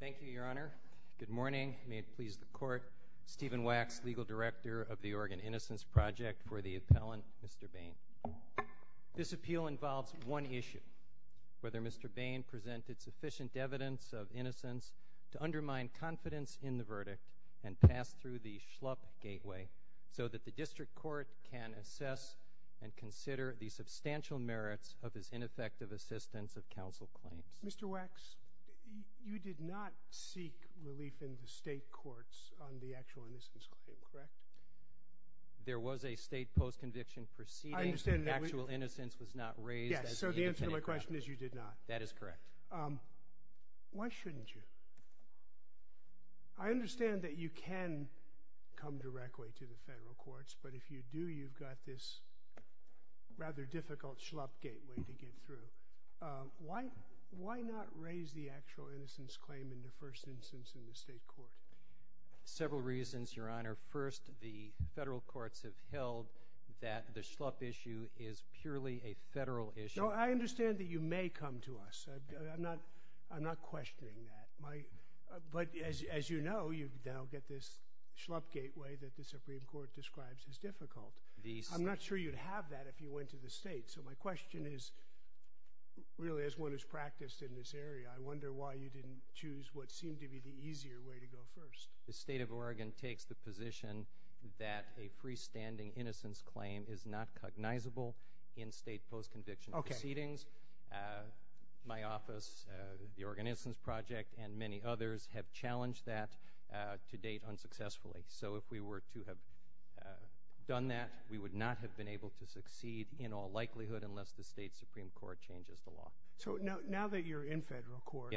Thank you, Your Honor. Good morning. May it please the Court, Stephen Wax, Legal Director of the Oregon Innocence Project, for the appellant, Mr. Bain. This appeal involves one issue, whether Mr. Bain presented sufficient evidence of innocence to undermine confidence in the verdict and pass through the Schlupp Gateway so that the District Court can assess and Mr. Wax, you did not seek relief in the state courts on the actual innocence claim, correct? Mr. Wax, there was a state post-conviction proceeding. The actual innocence was not raised as the independent credit. Yes, so the answer to my question is you did not. That is correct. Why shouldn't you? I understand that you can come directly to the federal courts, but if you do, you've got this rather difficult Schlupp Gateway to get through. Why not raise the actual innocence claim in the first instance in the state court? Several reasons, Your Honor. First, the federal courts have held that the Schlupp issue is purely a federal issue. No, I understand that you may come to us. I'm not questioning that. But as you know, you now get this Schlupp Gateway that the Supreme Court describes as difficult. I'm not sure you'd have that if you went to the state. So my question is, really, as one has practiced in this area, I wonder why you didn't choose what seemed to be the easier way to go first. The State of Oregon takes the position that a freestanding innocence claim is not cognizable in state post-conviction proceedings. My office, the Oregon Innocence Project, and many others have challenged that to date unsuccessfully. So if we were to have done that, we would not have been able to succeed in all likelihood unless the state Supreme Court changes the law. So now that you're in federal court,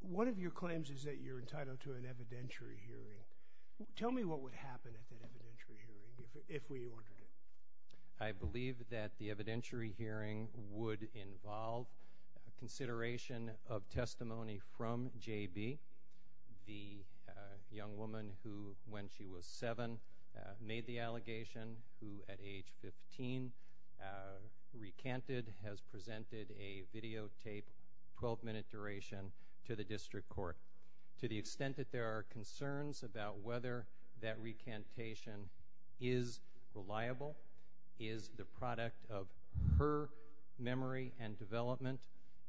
one of your claims is that you're entitled to an evidentiary hearing. Tell me what would happen at that evidentiary hearing if we ordered it. I believe that the evidentiary hearing would involve consideration of testimony from Justice J.B., the young woman who, when she was seven, made the allegation, who at age 15 recanted, has presented a videotape, 12-minute duration, to the district court. To the extent that there are concerns about whether that recantation is reliable, is the product of her memory and development.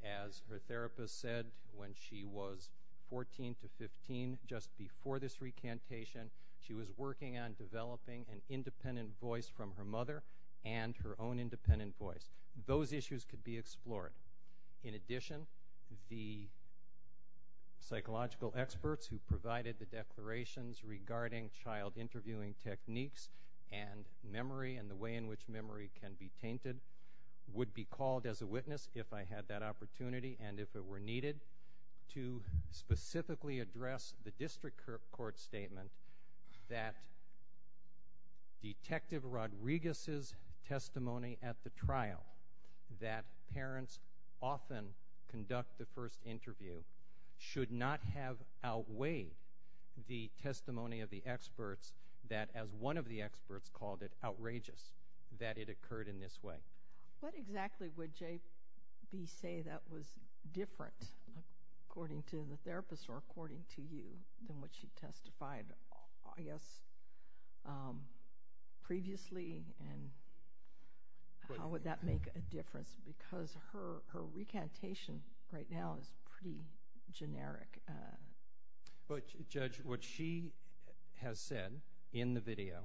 As her therapist said, when she was 14 to 15, just before this recantation, she was working on developing an independent voice from her mother and her own independent voice. Those issues could be explored. In addition, the psychological experts who provided the declarations regarding child interviewing techniques and memory and the way in which memory can be tainted would be called as a witness, if I had that opportunity and if it were needed, to specifically address the district court statement that Detective Rodriguez's testimony at the trial, that parents often conduct the first interview, should not have outweighed the testimony of the experts that, as one of the experts called it, outrageous that it occurred in this way. What exactly would J.B. say that was different, according to the therapist or according to you, than what she testified, I guess, previously, and how would that make a difference? Because her recantation right now is pretty generic. Judge, what she has said in the video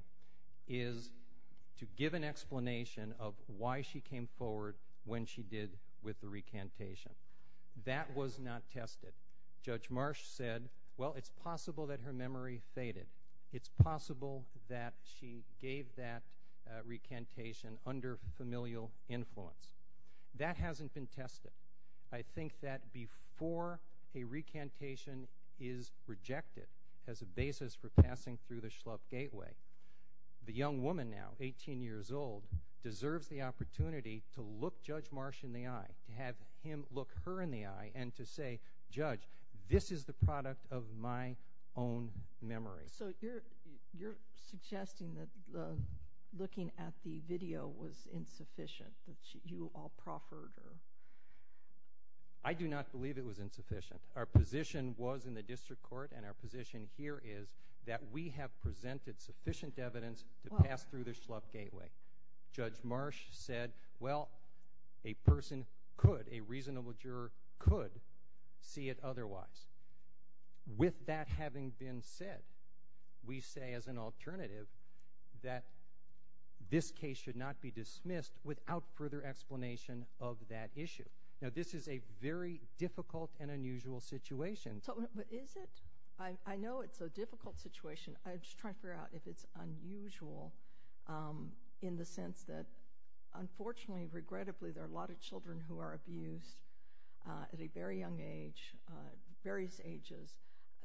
is to give an explanation of why she was able to testify, why she came forward when she did with the recantation. That was not tested. Judge Marsh said, well, it's possible that her memory faded. It's possible that she gave that recantation under familial influence. That hasn't been tested. I think that before a recantation is rejected as a basis for passing through the Schlupp Gateway, there is an opportunity to look Judge Marsh in the eye, to have him look her in the eye, and to say, Judge, this is the product of my own memory. So you're suggesting that looking at the video was insufficient, that you all proffered? I do not believe it was insufficient. Our position was in the district court, and our position here is that we have presented sufficient evidence to pass through the Schlupp Gateway. Judge Marsh said, well, a person could, a reasonable juror could see it otherwise. With that having been said, we say as an alternative that this case should not be dismissed without further explanation of that issue. Now, this is a very difficult and unusual situation. Is it? I know it's a difficult situation. I'm just trying to figure out if it's unusual in the sense that, unfortunately, regrettably, there are a lot of children who are abused at a very young age, various ages.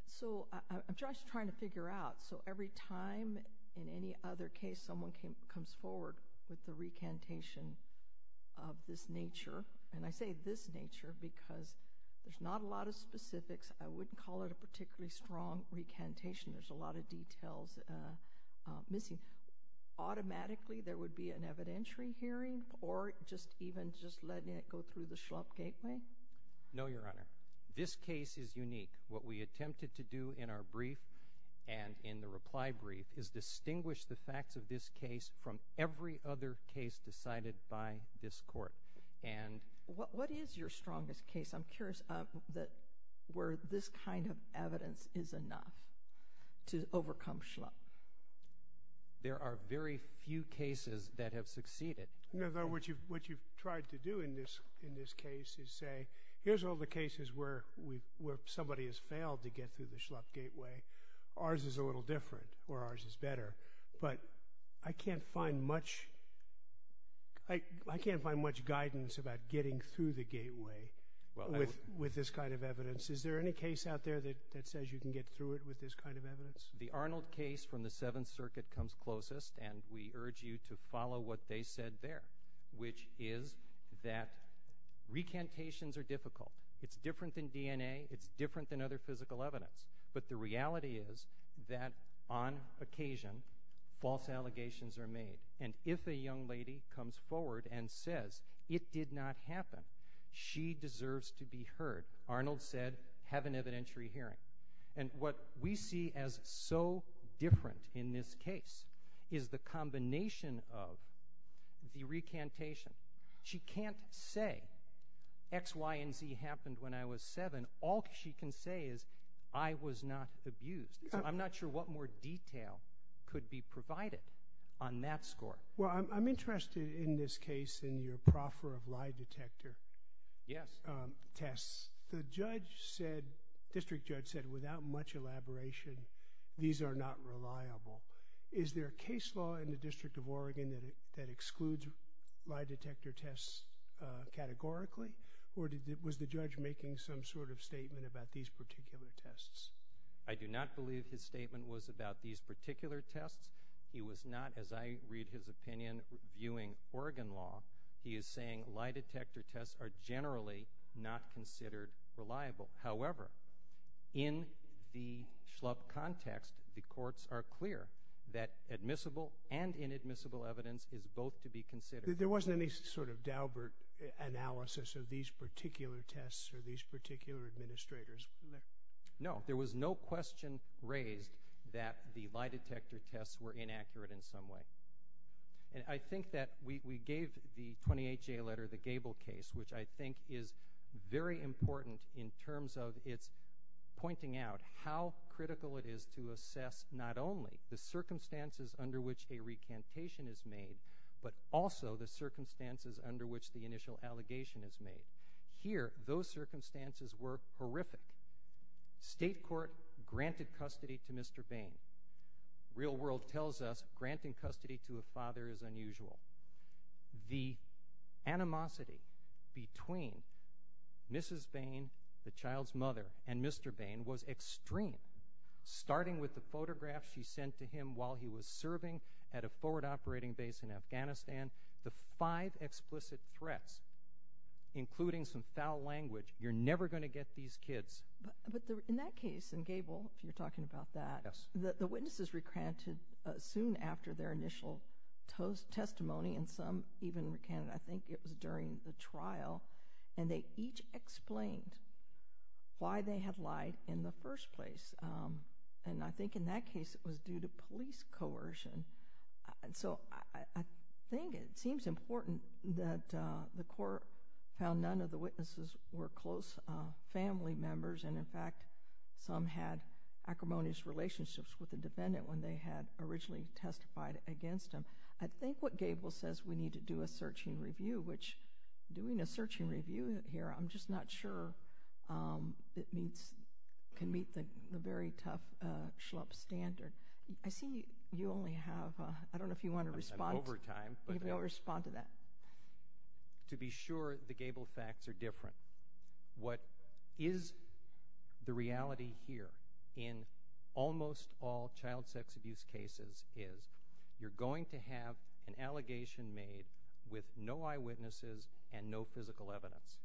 So I'm just trying to figure out. So every time in any other case someone comes forward with the recantation of this nature, and I say this nature because there's not a lot of specifics. I wouldn't call it a particularly strong recantation. There's a lot of details missing. Automatically, there would be an evidentiary hearing or just even just letting it go through the Schlupp Gateway? No, Your Honor. This case is unique. What we attempted to do in our brief and in the reply brief is distinguish the facts of this case from every other case decided by this Court. What is your strongest case, I'm curious, where this kind of evidence is enough to overcome Schlupp? There are very few cases that have succeeded. No, no. What you've tried to do in this case is say, here's all the cases where somebody has failed to get through the Schlupp Gateway. Ours is a little different, or ours is better. But I can't find much guidance about getting through the Gateway with this kind of evidence. Is there any case out there that says you can get through it with this kind of evidence? The Arnold case from the Seventh Circuit comes closest, and we urge you to follow what they said there, which is that recantations are difficult. It's different than DNA. It's different than other physical evidence. But the reality is that on occasion, false allegations are made. And if a young lady comes forward and says, it did not happen, she deserves to be heard, Arnold said, have an evidentiary hearing. And what we see as so different in this case is the combination of the recantation. She can say, I was not abused. I'm not sure what more detail could be provided on that score. I'm interested in this case in your proffer of lie detector tests. The district judge said without much elaboration, these are not reliable. Is there a case law in the District of Oregon that excludes lie detector tests categorically? Or was the judge making some sort of statement about these particular tests? I do not believe his statement was about these particular tests. He was not, as I read his opinion, viewing Oregon law. He is saying lie detector tests are generally not considered reliable. However, in the Schlupp context, the courts are clear that admissible and inadmissible evidence is both to be considered. There wasn't any sort of Dalbert analysis of these particular tests or these particular administrators, was there? No. There was no question raised that the lie detector tests were inaccurate in some way. And I think that we gave the 28-J letter, the Gable case, which I think is very important in terms of it's pointing out how critical it is to assess not only the circumstances under which a recantation is made, but also the circumstances under which the initial allegation is made. Here, those circumstances were horrific. State court granted custody to Mr. Bain. The real world tells us granting custody to a father is unusual. The animosity between Mrs. Bain, the child's mother, and Mr. Bain was extreme, starting with the photographs she sent to him while he was serving at a forward operating base in Afghanistan. The five explicit threats, including some foul language, you're never going to get these kids. But in that case, in Gable, if you're talking about that, the witnesses recanted soon after their initial testimony and some even recanted. I think it was during the trial. And they each explained why they had lied in the first place. And I think in that case, it was due to police coercion. So I think it seems important that the court found none of the witnesses were close family members. And in fact, some had acrimonious relationships with the defendant when they had originally testified against him. I think what Gable says, we need to do a searching review, which doing a searching review here I'm just not sure it can meet the very tough SHLUP standard. I see you only have, I don't know if you want to respond to that. To be sure, the Gable facts are different. What is the reality here in almost all child sex abuse cases is you're going to have an allegation made with no eyewitnesses and no witnesses.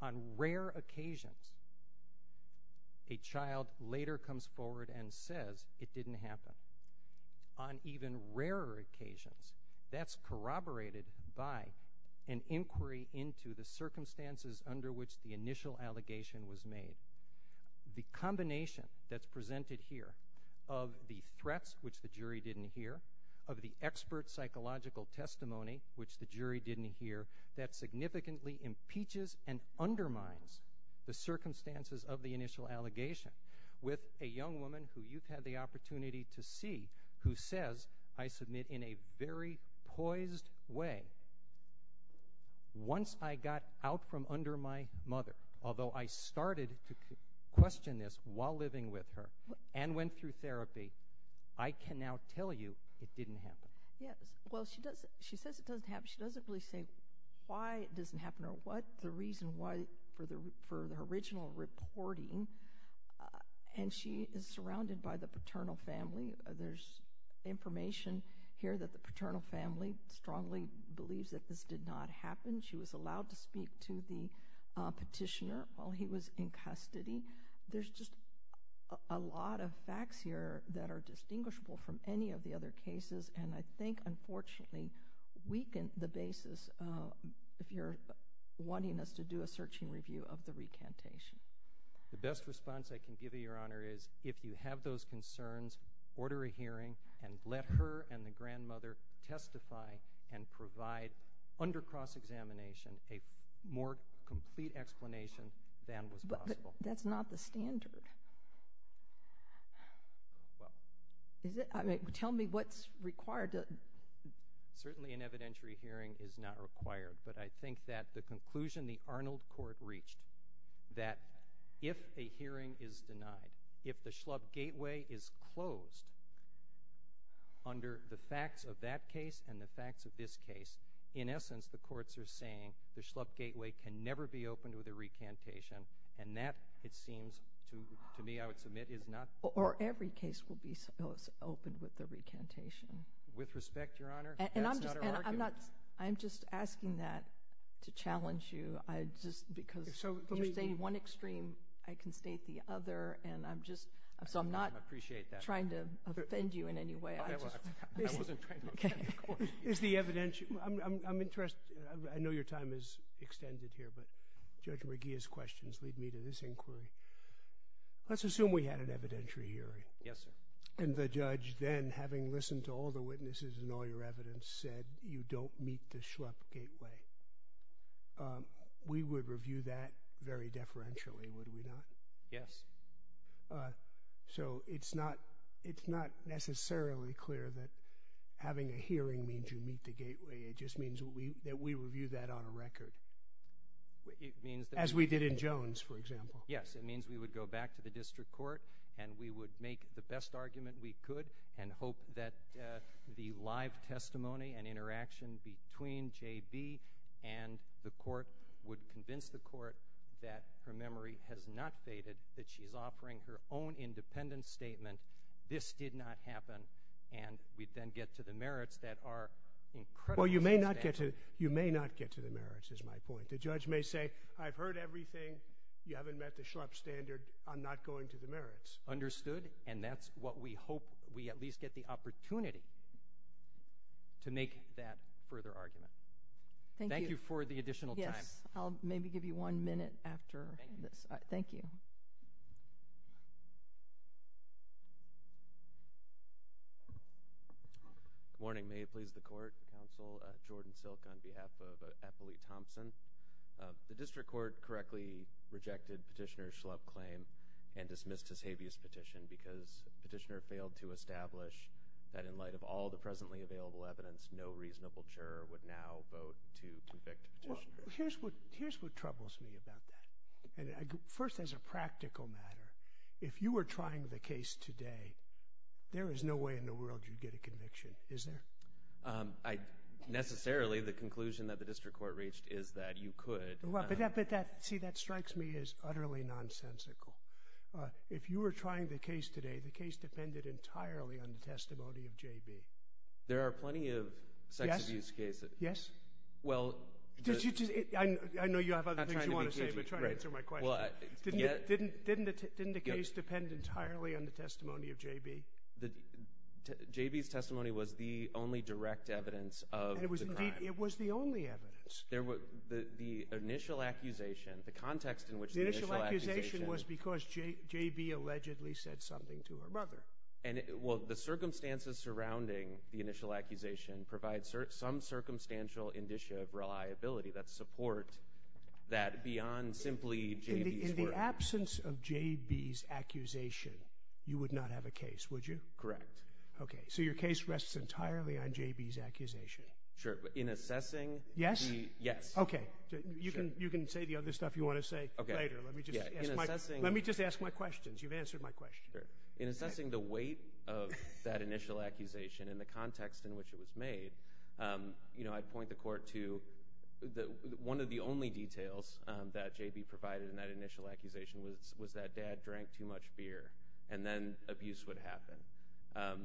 On rare occasions, a child later comes forward and says it didn't happen. On even rarer occasions, that's corroborated by an inquiry into the circumstances under which the initial allegation was made. The combination that's presented here of the threats, which the jury didn't hear, of the expert psychological testimony, which the jury didn't hear, that significantly impeaches and undermines the circumstances of the initial allegation with a young woman who you've had the opportunity to see who says, I submit, in a very poised way, once I got out from under my mother, although I started to question this while living with her and went through therapy, I can now tell you it didn't happen. Yes. Well, she does, she says it doesn't happen. She doesn't really say why it doesn't happen or what the reason for the original reporting, and she is surrounded by the paternal family. There's information here that the paternal family strongly believes that this did not happen. She was allowed to speak to the petitioner while he was in custody. There's just a lot of facts here that are distinguishable from any of the other cases and I think, unfortunately, weaken the basis if you're wanting us to do a searching review of the recantation. The best response I can give you, Your Honor, is if you have those concerns, order a hearing and let her and the grandmother testify and provide, under cross-examination, a more complete explanation than was possible. That's not the standard. Tell me what's required. Certainly an evidentiary hearing is not required, but I think that the conclusion the Arnold Court reached that if a hearing is denied, if the Schlupp Gateway is closed under the facts of that case and the facts of this case, in essence, the courts are saying the Schlupp Gateway can never be opened with a recantation and that, it seems to me, I would submit, is not... Or every case will be supposed to be opened with a recantation. With respect, Your Honor, that's not... And I'm just asking that to challenge you, just because you state one extreme, I can state the other and I'm just, so I'm not trying to offend you in any way. Is the evidentiary... I know your time is extended here, but Judge McGeeh's questions lead me to this inquiry. Let's assume we had an evidentiary hearing and the judge then, having listened to all the witnesses and all your evidence, said, you don't meet the Schlupp Gateway. We would review that very deferentially, would we not? Yes. So it's not necessarily clear that having a hearing means you meet the Gateway, it just means that we review that on a record. As we did in Jones, for example. Yes, it means we would go back to the district court and we would make the best argument we could and hope that the live testimony and interaction between J.B. and the court would convince the court that her memory has not faded, that she's offering her own independent statement, this did not happen, and we'd then get to the merits that are incredibly substantial. Well, you may not get to the merits, is my point. The judge may say, I've heard everything, you haven't met the Schlupp standard, I'm not going to the merits. Understood, and that's what we hope, we at least get the opportunity to make that further argument. Thank you for the additional time. Yes, I'll maybe give you one minute after this. Thank you. Good morning, may it please the court, counsel, Jordan Silk on behalf of Ethel E. Thompson. The district court correctly rejected Petitioner's Schlupp claim and dismissed his habeas petition because Petitioner failed to establish that in light of all the presently available evidence, no reasonable juror would now vote to convict Petitioner. Here's what troubles me about that. First, as a practical matter, if you were trying the case today, there is no way in the world you'd get a conviction, is there? Necessarily, the conclusion that the district court reached is that you could. But see, that strikes me as utterly nonsensical. If you were trying the case today, the case depended entirely on the testimony of J.B. There are plenty of sex abuse cases. Yes, yes, I know you have other things you want to say, but try to answer my question. Didn't the case depend entirely on the testimony of J.B.? J.B.'s testimony was the only direct evidence of the crime. It was the only evidence. The initial accusation, the context in which the initial accusation... The initial accusation was because J.B. allegedly said something to her mother. The circumstances surrounding the initial accusation provide some circumstantial indicia In the absence of J.B.'s accusation, you would not have a case, would you? Correct. Okay, so your case rests entirely on J.B.'s accusation. In assessing... Yes? Yes. Okay, you can say the other stuff you want to say later. Let me just ask my questions. You've answered my question. In assessing the weight of that initial accusation and the context in which it was made, I'd like to point the court to one of the only details that J.B. provided in that initial accusation was that Dad drank too much beer, and then abuse would happen.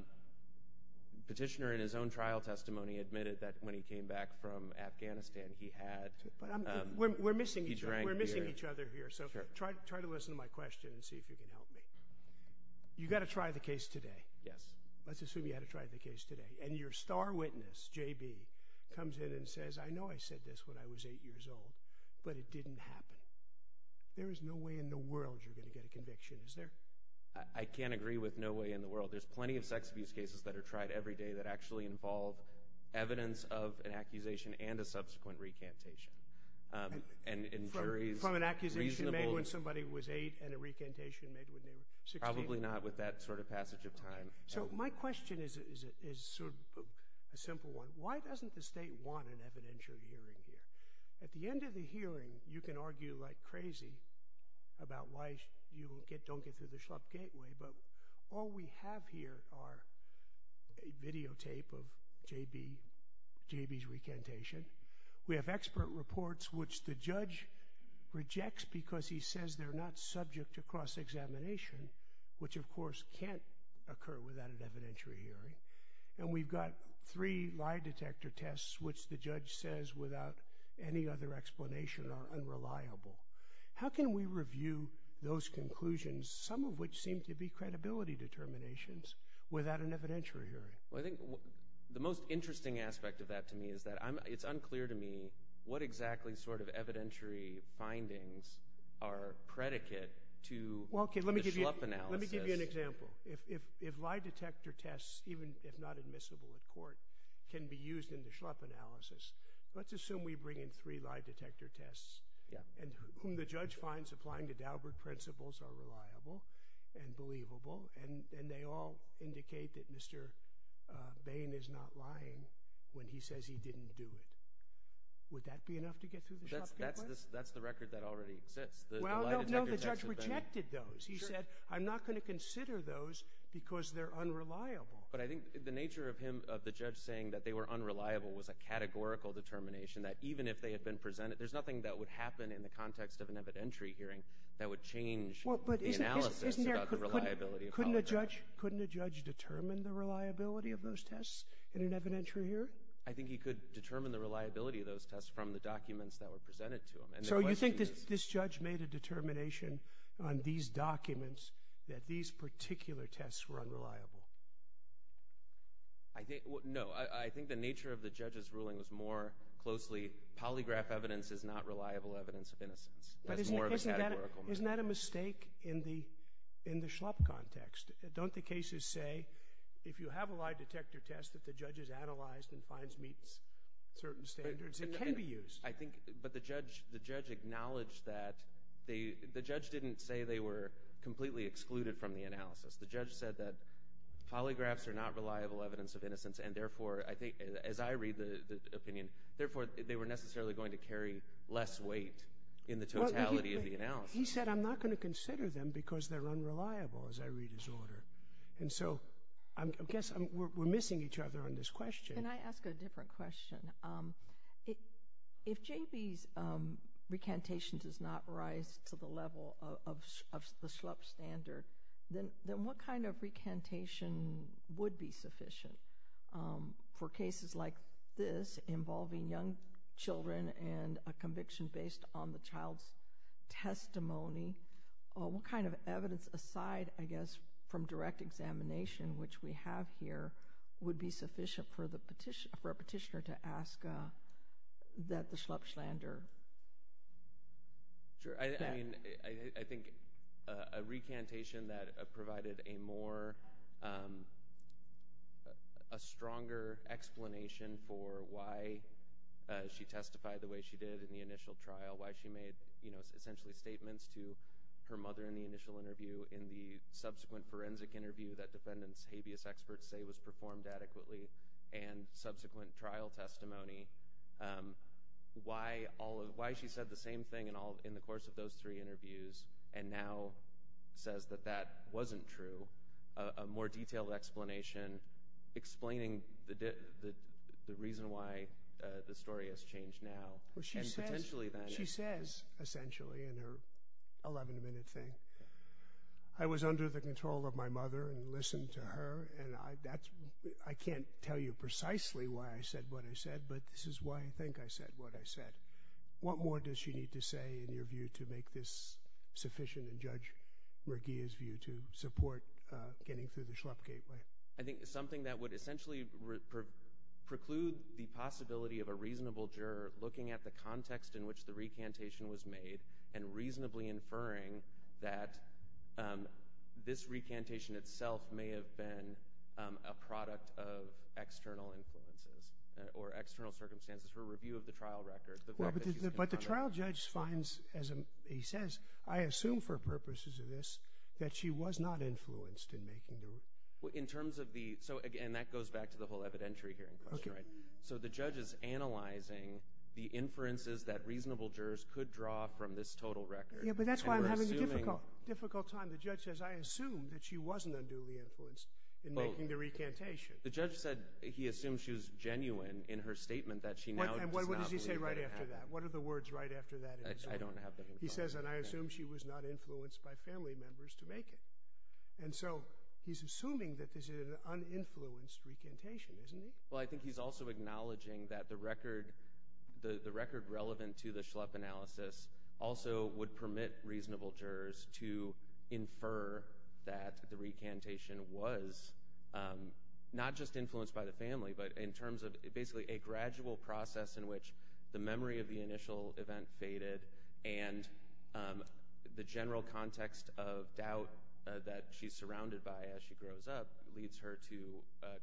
Petitioner in his own trial testimony admitted that when he came back from Afghanistan, he had... We're missing each other here, so try to listen to my question and see if you can help me. You got to try the case today. Yes. Let's assume you had to try the case today. And your star witness, J.B., comes in and says, I know I said this when I was eight years old, but it didn't happen. There is no way in the world you're going to get a conviction, is there? I can't agree with no way in the world. There's plenty of sex abuse cases that are tried every day that actually involve evidence of an accusation and a subsequent recantation. And in jury's reasonable... From an accusation made when somebody was eight and a recantation made when they were 16? Probably not with that sort of passage of time. So my question is sort of a simple one. Why doesn't the state want an evidential hearing here? At the end of the hearing, you can argue like crazy about why you don't get through the Schlupp Gateway, but all we have here are a videotape of J.B.'s recantation. We have expert reports, which the judge rejects because he says they're not subject to cross-examination, which of course can't occur without an evidentiary hearing. And we've got three lie detector tests, which the judge says without any other explanation are unreliable. How can we review those conclusions, some of which seem to be credibility determinations, without an evidentiary hearing? The most interesting aspect of that to me is that it's unclear to me what exactly sort of evidentiary findings are predicate to the Schlupp analysis. Well, okay, let me give you an example. If lie detector tests, even if not admissible at court, can be used in the Schlupp analysis, let's assume we bring in three lie detector tests, and whom the judge finds applying to Daubert principles are reliable and believable, and they all indicate that Mr. Bain is not lying when he says he didn't do it. Would that be enough to get through the Schlupp case? That's the record that already exists. Well, no, the judge rejected those. He said, I'm not going to consider those because they're unreliable. But I think the nature of him, of the judge saying that they were unreliable was a categorical determination that even if they had been presented, there's nothing that would happen in the context of an evidentiary hearing that would change the analysis about the reliability of that. Couldn't a judge determine the reliability of those tests in an evidentiary hearing? I think he could determine the reliability of those tests from the documents that were presented to him. So you think this judge made a determination on these documents that these particular tests were unreliable? No, I think the nature of the judge's ruling was more closely, polygraph evidence is not reliable evidence of innocence. That's more of a categorical measure. Isn't that a mistake in the Schlupp context? Don't the cases say, if you have a lie detector test that the judge has analyzed and finds meets certain standards, it can be used. I think, but the judge acknowledged that, the judge didn't say they were completely excluded from the analysis. The judge said that polygraphs are not reliable evidence of innocence and therefore, as I read the opinion, therefore they were necessarily going to carry less weight in the totality of the analysis. He said, I'm not going to consider them because they're unreliable, as I read his order. And so, I guess we're missing each other on this question. Can I ask a different question? If J.B.'s recantation does not rise to the level of the Schlupp standard, then what kind of recantation would be sufficient for cases like this involving young children and a conviction based on the child's testimony? What kind of evidence, aside, I guess, from direct examination, which we have here, would be sufficient for a petitioner to ask that the Schlupp slander? Sure. I mean, I think a recantation that provided a more, a stronger explanation for why she testified the way she did in the initial trial, why she made, you know, essentially statements to her mother in the initial interview, in the subsequent forensic interview that defendants' habeas experts say was performed adequately, and subsequent trial testimony. Why she said the same thing in the course of those three interviews and now says that that wasn't true, a more detailed explanation explaining the reason why the story has changed now. Well, she says, essentially, in her 11-minute thing, I was under the control of my mother and listened to her, and I can't tell you precisely why I said what I said, but this What more does she need to say, in your view, to make this sufficient and judge Regea's view to support getting through the Schlupp gateway? I think something that would essentially preclude the possibility of a reasonable juror looking at the context in which the recantation was made and reasonably inferring that this recantation itself may have been a product of external influences or external circumstances for review of the trial record. But the trial judge finds, as he says, I assume for purposes of this that she was not influenced in making the recantation. In terms of the, so again that goes back to the whole evidentiary hearing question, right? So the judge is analyzing the inferences that reasonable jurors could draw from this total record. Yeah, but that's why I'm having a difficult time. The judge says, I assume that she wasn't unduly influenced in making the recantation. The judge said he assumed she was genuine in her statement that she now What does he say right after that? What are the words right after that? I don't have them. He says, and I assume she was not influenced by family members to make it. And so he's assuming that this is an uninfluenced recantation, isn't he? Well, I think he's also acknowledging that the record relevant to the Schlupp analysis also would permit reasonable jurors to infer that the recantation was not just influenced by the family, but in terms of basically a gradual process in which the memory of the initial event faded and the general context of doubt that she's surrounded by as she grows up leads her to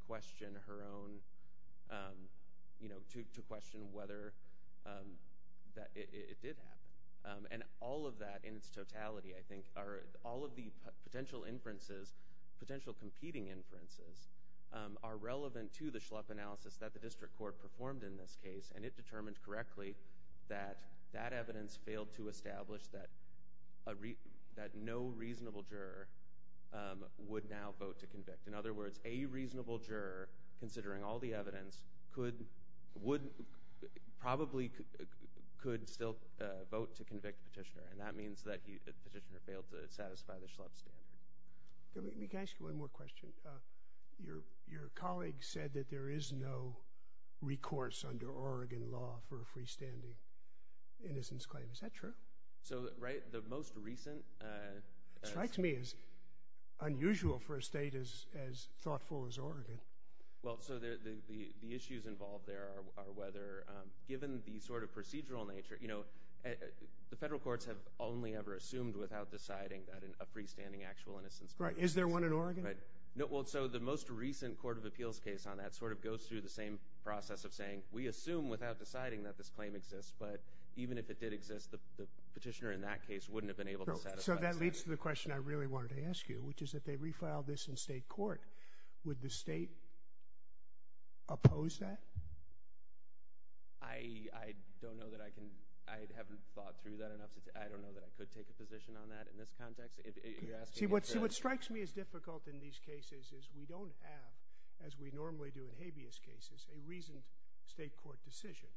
question her own, you know, to question whether it did happen. And all of that in its totality, I think, are all of the potential inferences, potential relevant to the Schlupp analysis that the district court performed in this case. And it determined correctly that that evidence failed to establish that no reasonable juror would now vote to convict. In other words, a reasonable juror, considering all the evidence, probably could still vote to convict Petitioner. And that means that Petitioner failed to satisfy the Schlupp standard. Can I ask you one more question? Your colleague said that there is no recourse under Oregon law for a freestanding innocence claim. Is that true? So, right, the most recent... It strikes me as unusual for a state as thoughtful as Oregon. Well, so the issues involved there are whether, given the sort of procedural nature, you know, the federal courts have only ever assumed without deciding that a freestanding actual innocence claim... Right. Is there one in Oregon? Right. No, well, so the most recent Court of Appeals case on that sort of goes through the same process of saying, we assume without deciding that this claim exists, but even if it did exist, the Petitioner in that case wouldn't have been able to satisfy the standard. So that leads to the question I really wanted to ask you, which is that they refiled this in state court. Would the state oppose that? I don't know that I can, I haven't thought through that enough to, I don't know that I could take a position on that in this context. You're asking me for... See, what strikes me as difficult in these cases is we don't have, as we normally do in habeas cases, a reasoned state court decision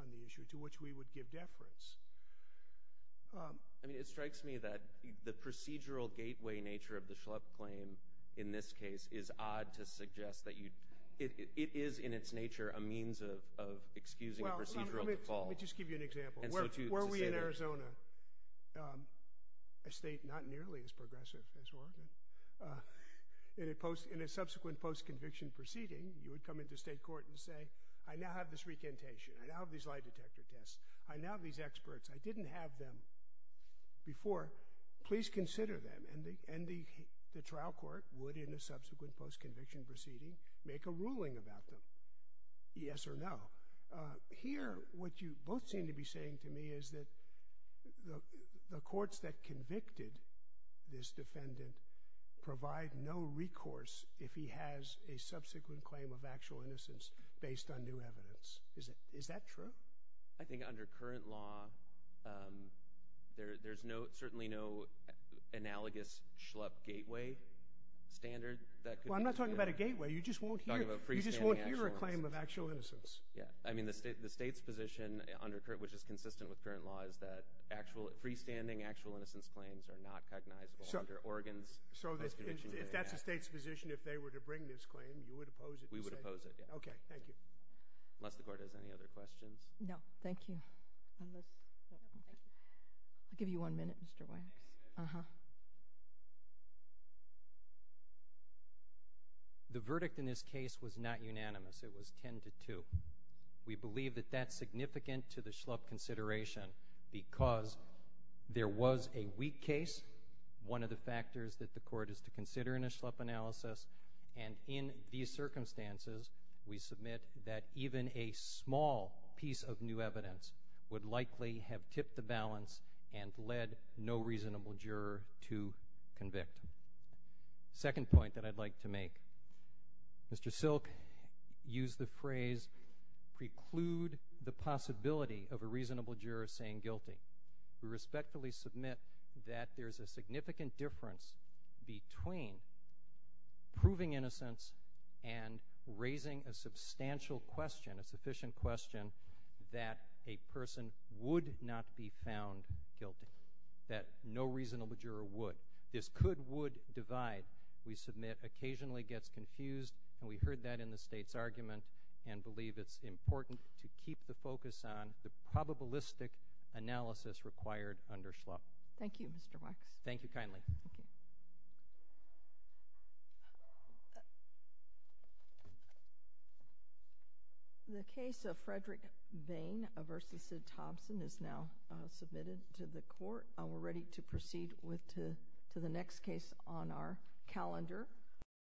on the issue to which we would give deference. I mean, it strikes me that the procedural gateway nature of the Schlepp claim in this case is odd to suggest that you, it is in its nature a means of excusing a procedural default. Well, let me just give you an example. Were we in Arizona, a state not nearly as progressive as Oregon, in a subsequent post-conviction proceeding, you would come into state court and say, I now have this recantation, I now have these lie detector tests, I now have these experts, I didn't have them before, please consider them. And the trial court would, in a subsequent post-conviction proceeding, make a ruling about them, yes or no. Now, here, what you both seem to be saying to me is that the courts that convicted this defendant provide no recourse if he has a subsequent claim of actual innocence based on new evidence. Is that true? I think under current law, there's certainly no analogous Schlepp gateway standard that could... Well, I'm not talking about a gateway, you just won't hear... I'm talking about freestanding... You just won't hear a claim of actual innocence. Yeah. I mean, the state's position, which is consistent with current law, is that freestanding actual innocence claims are not cognizable under Oregon's post-conviction hearing act. So if that's the state's position, if they were to bring this claim, you would oppose it? We would oppose it, yeah. Okay. Thank you. Unless the court has any other questions? No. Thank you. I'll give you one minute, Mr. Wax. The verdict in this case was not unanimous. It was 10 to 2. We believe that that's significant to the Schlepp consideration because there was a weak case, one of the factors that the court is to consider in a Schlepp analysis, and in these circumstances, we submit that even a small piece of new evidence would likely have tipped the balance and led no reasonable juror to convict. The second point that I'd like to make, Mr. Silk used the phrase preclude the possibility of a reasonable juror saying guilty. We respectfully submit that there's a significant difference between proving innocence and raising a substantial question, a sufficient question, that a person would not be found guilty, that no reasonable juror would. This could, would divide. We submit occasionally gets confused, and we heard that in the State's argument and believe it's important to keep the focus on the probabilistic analysis required under Schlepp. Thank you, Mr. Wax. Thank you kindly. The case of Frederick Vane v. Sid Thompson is now submitted to the court. We're ready to proceed with to the next case on our calendar.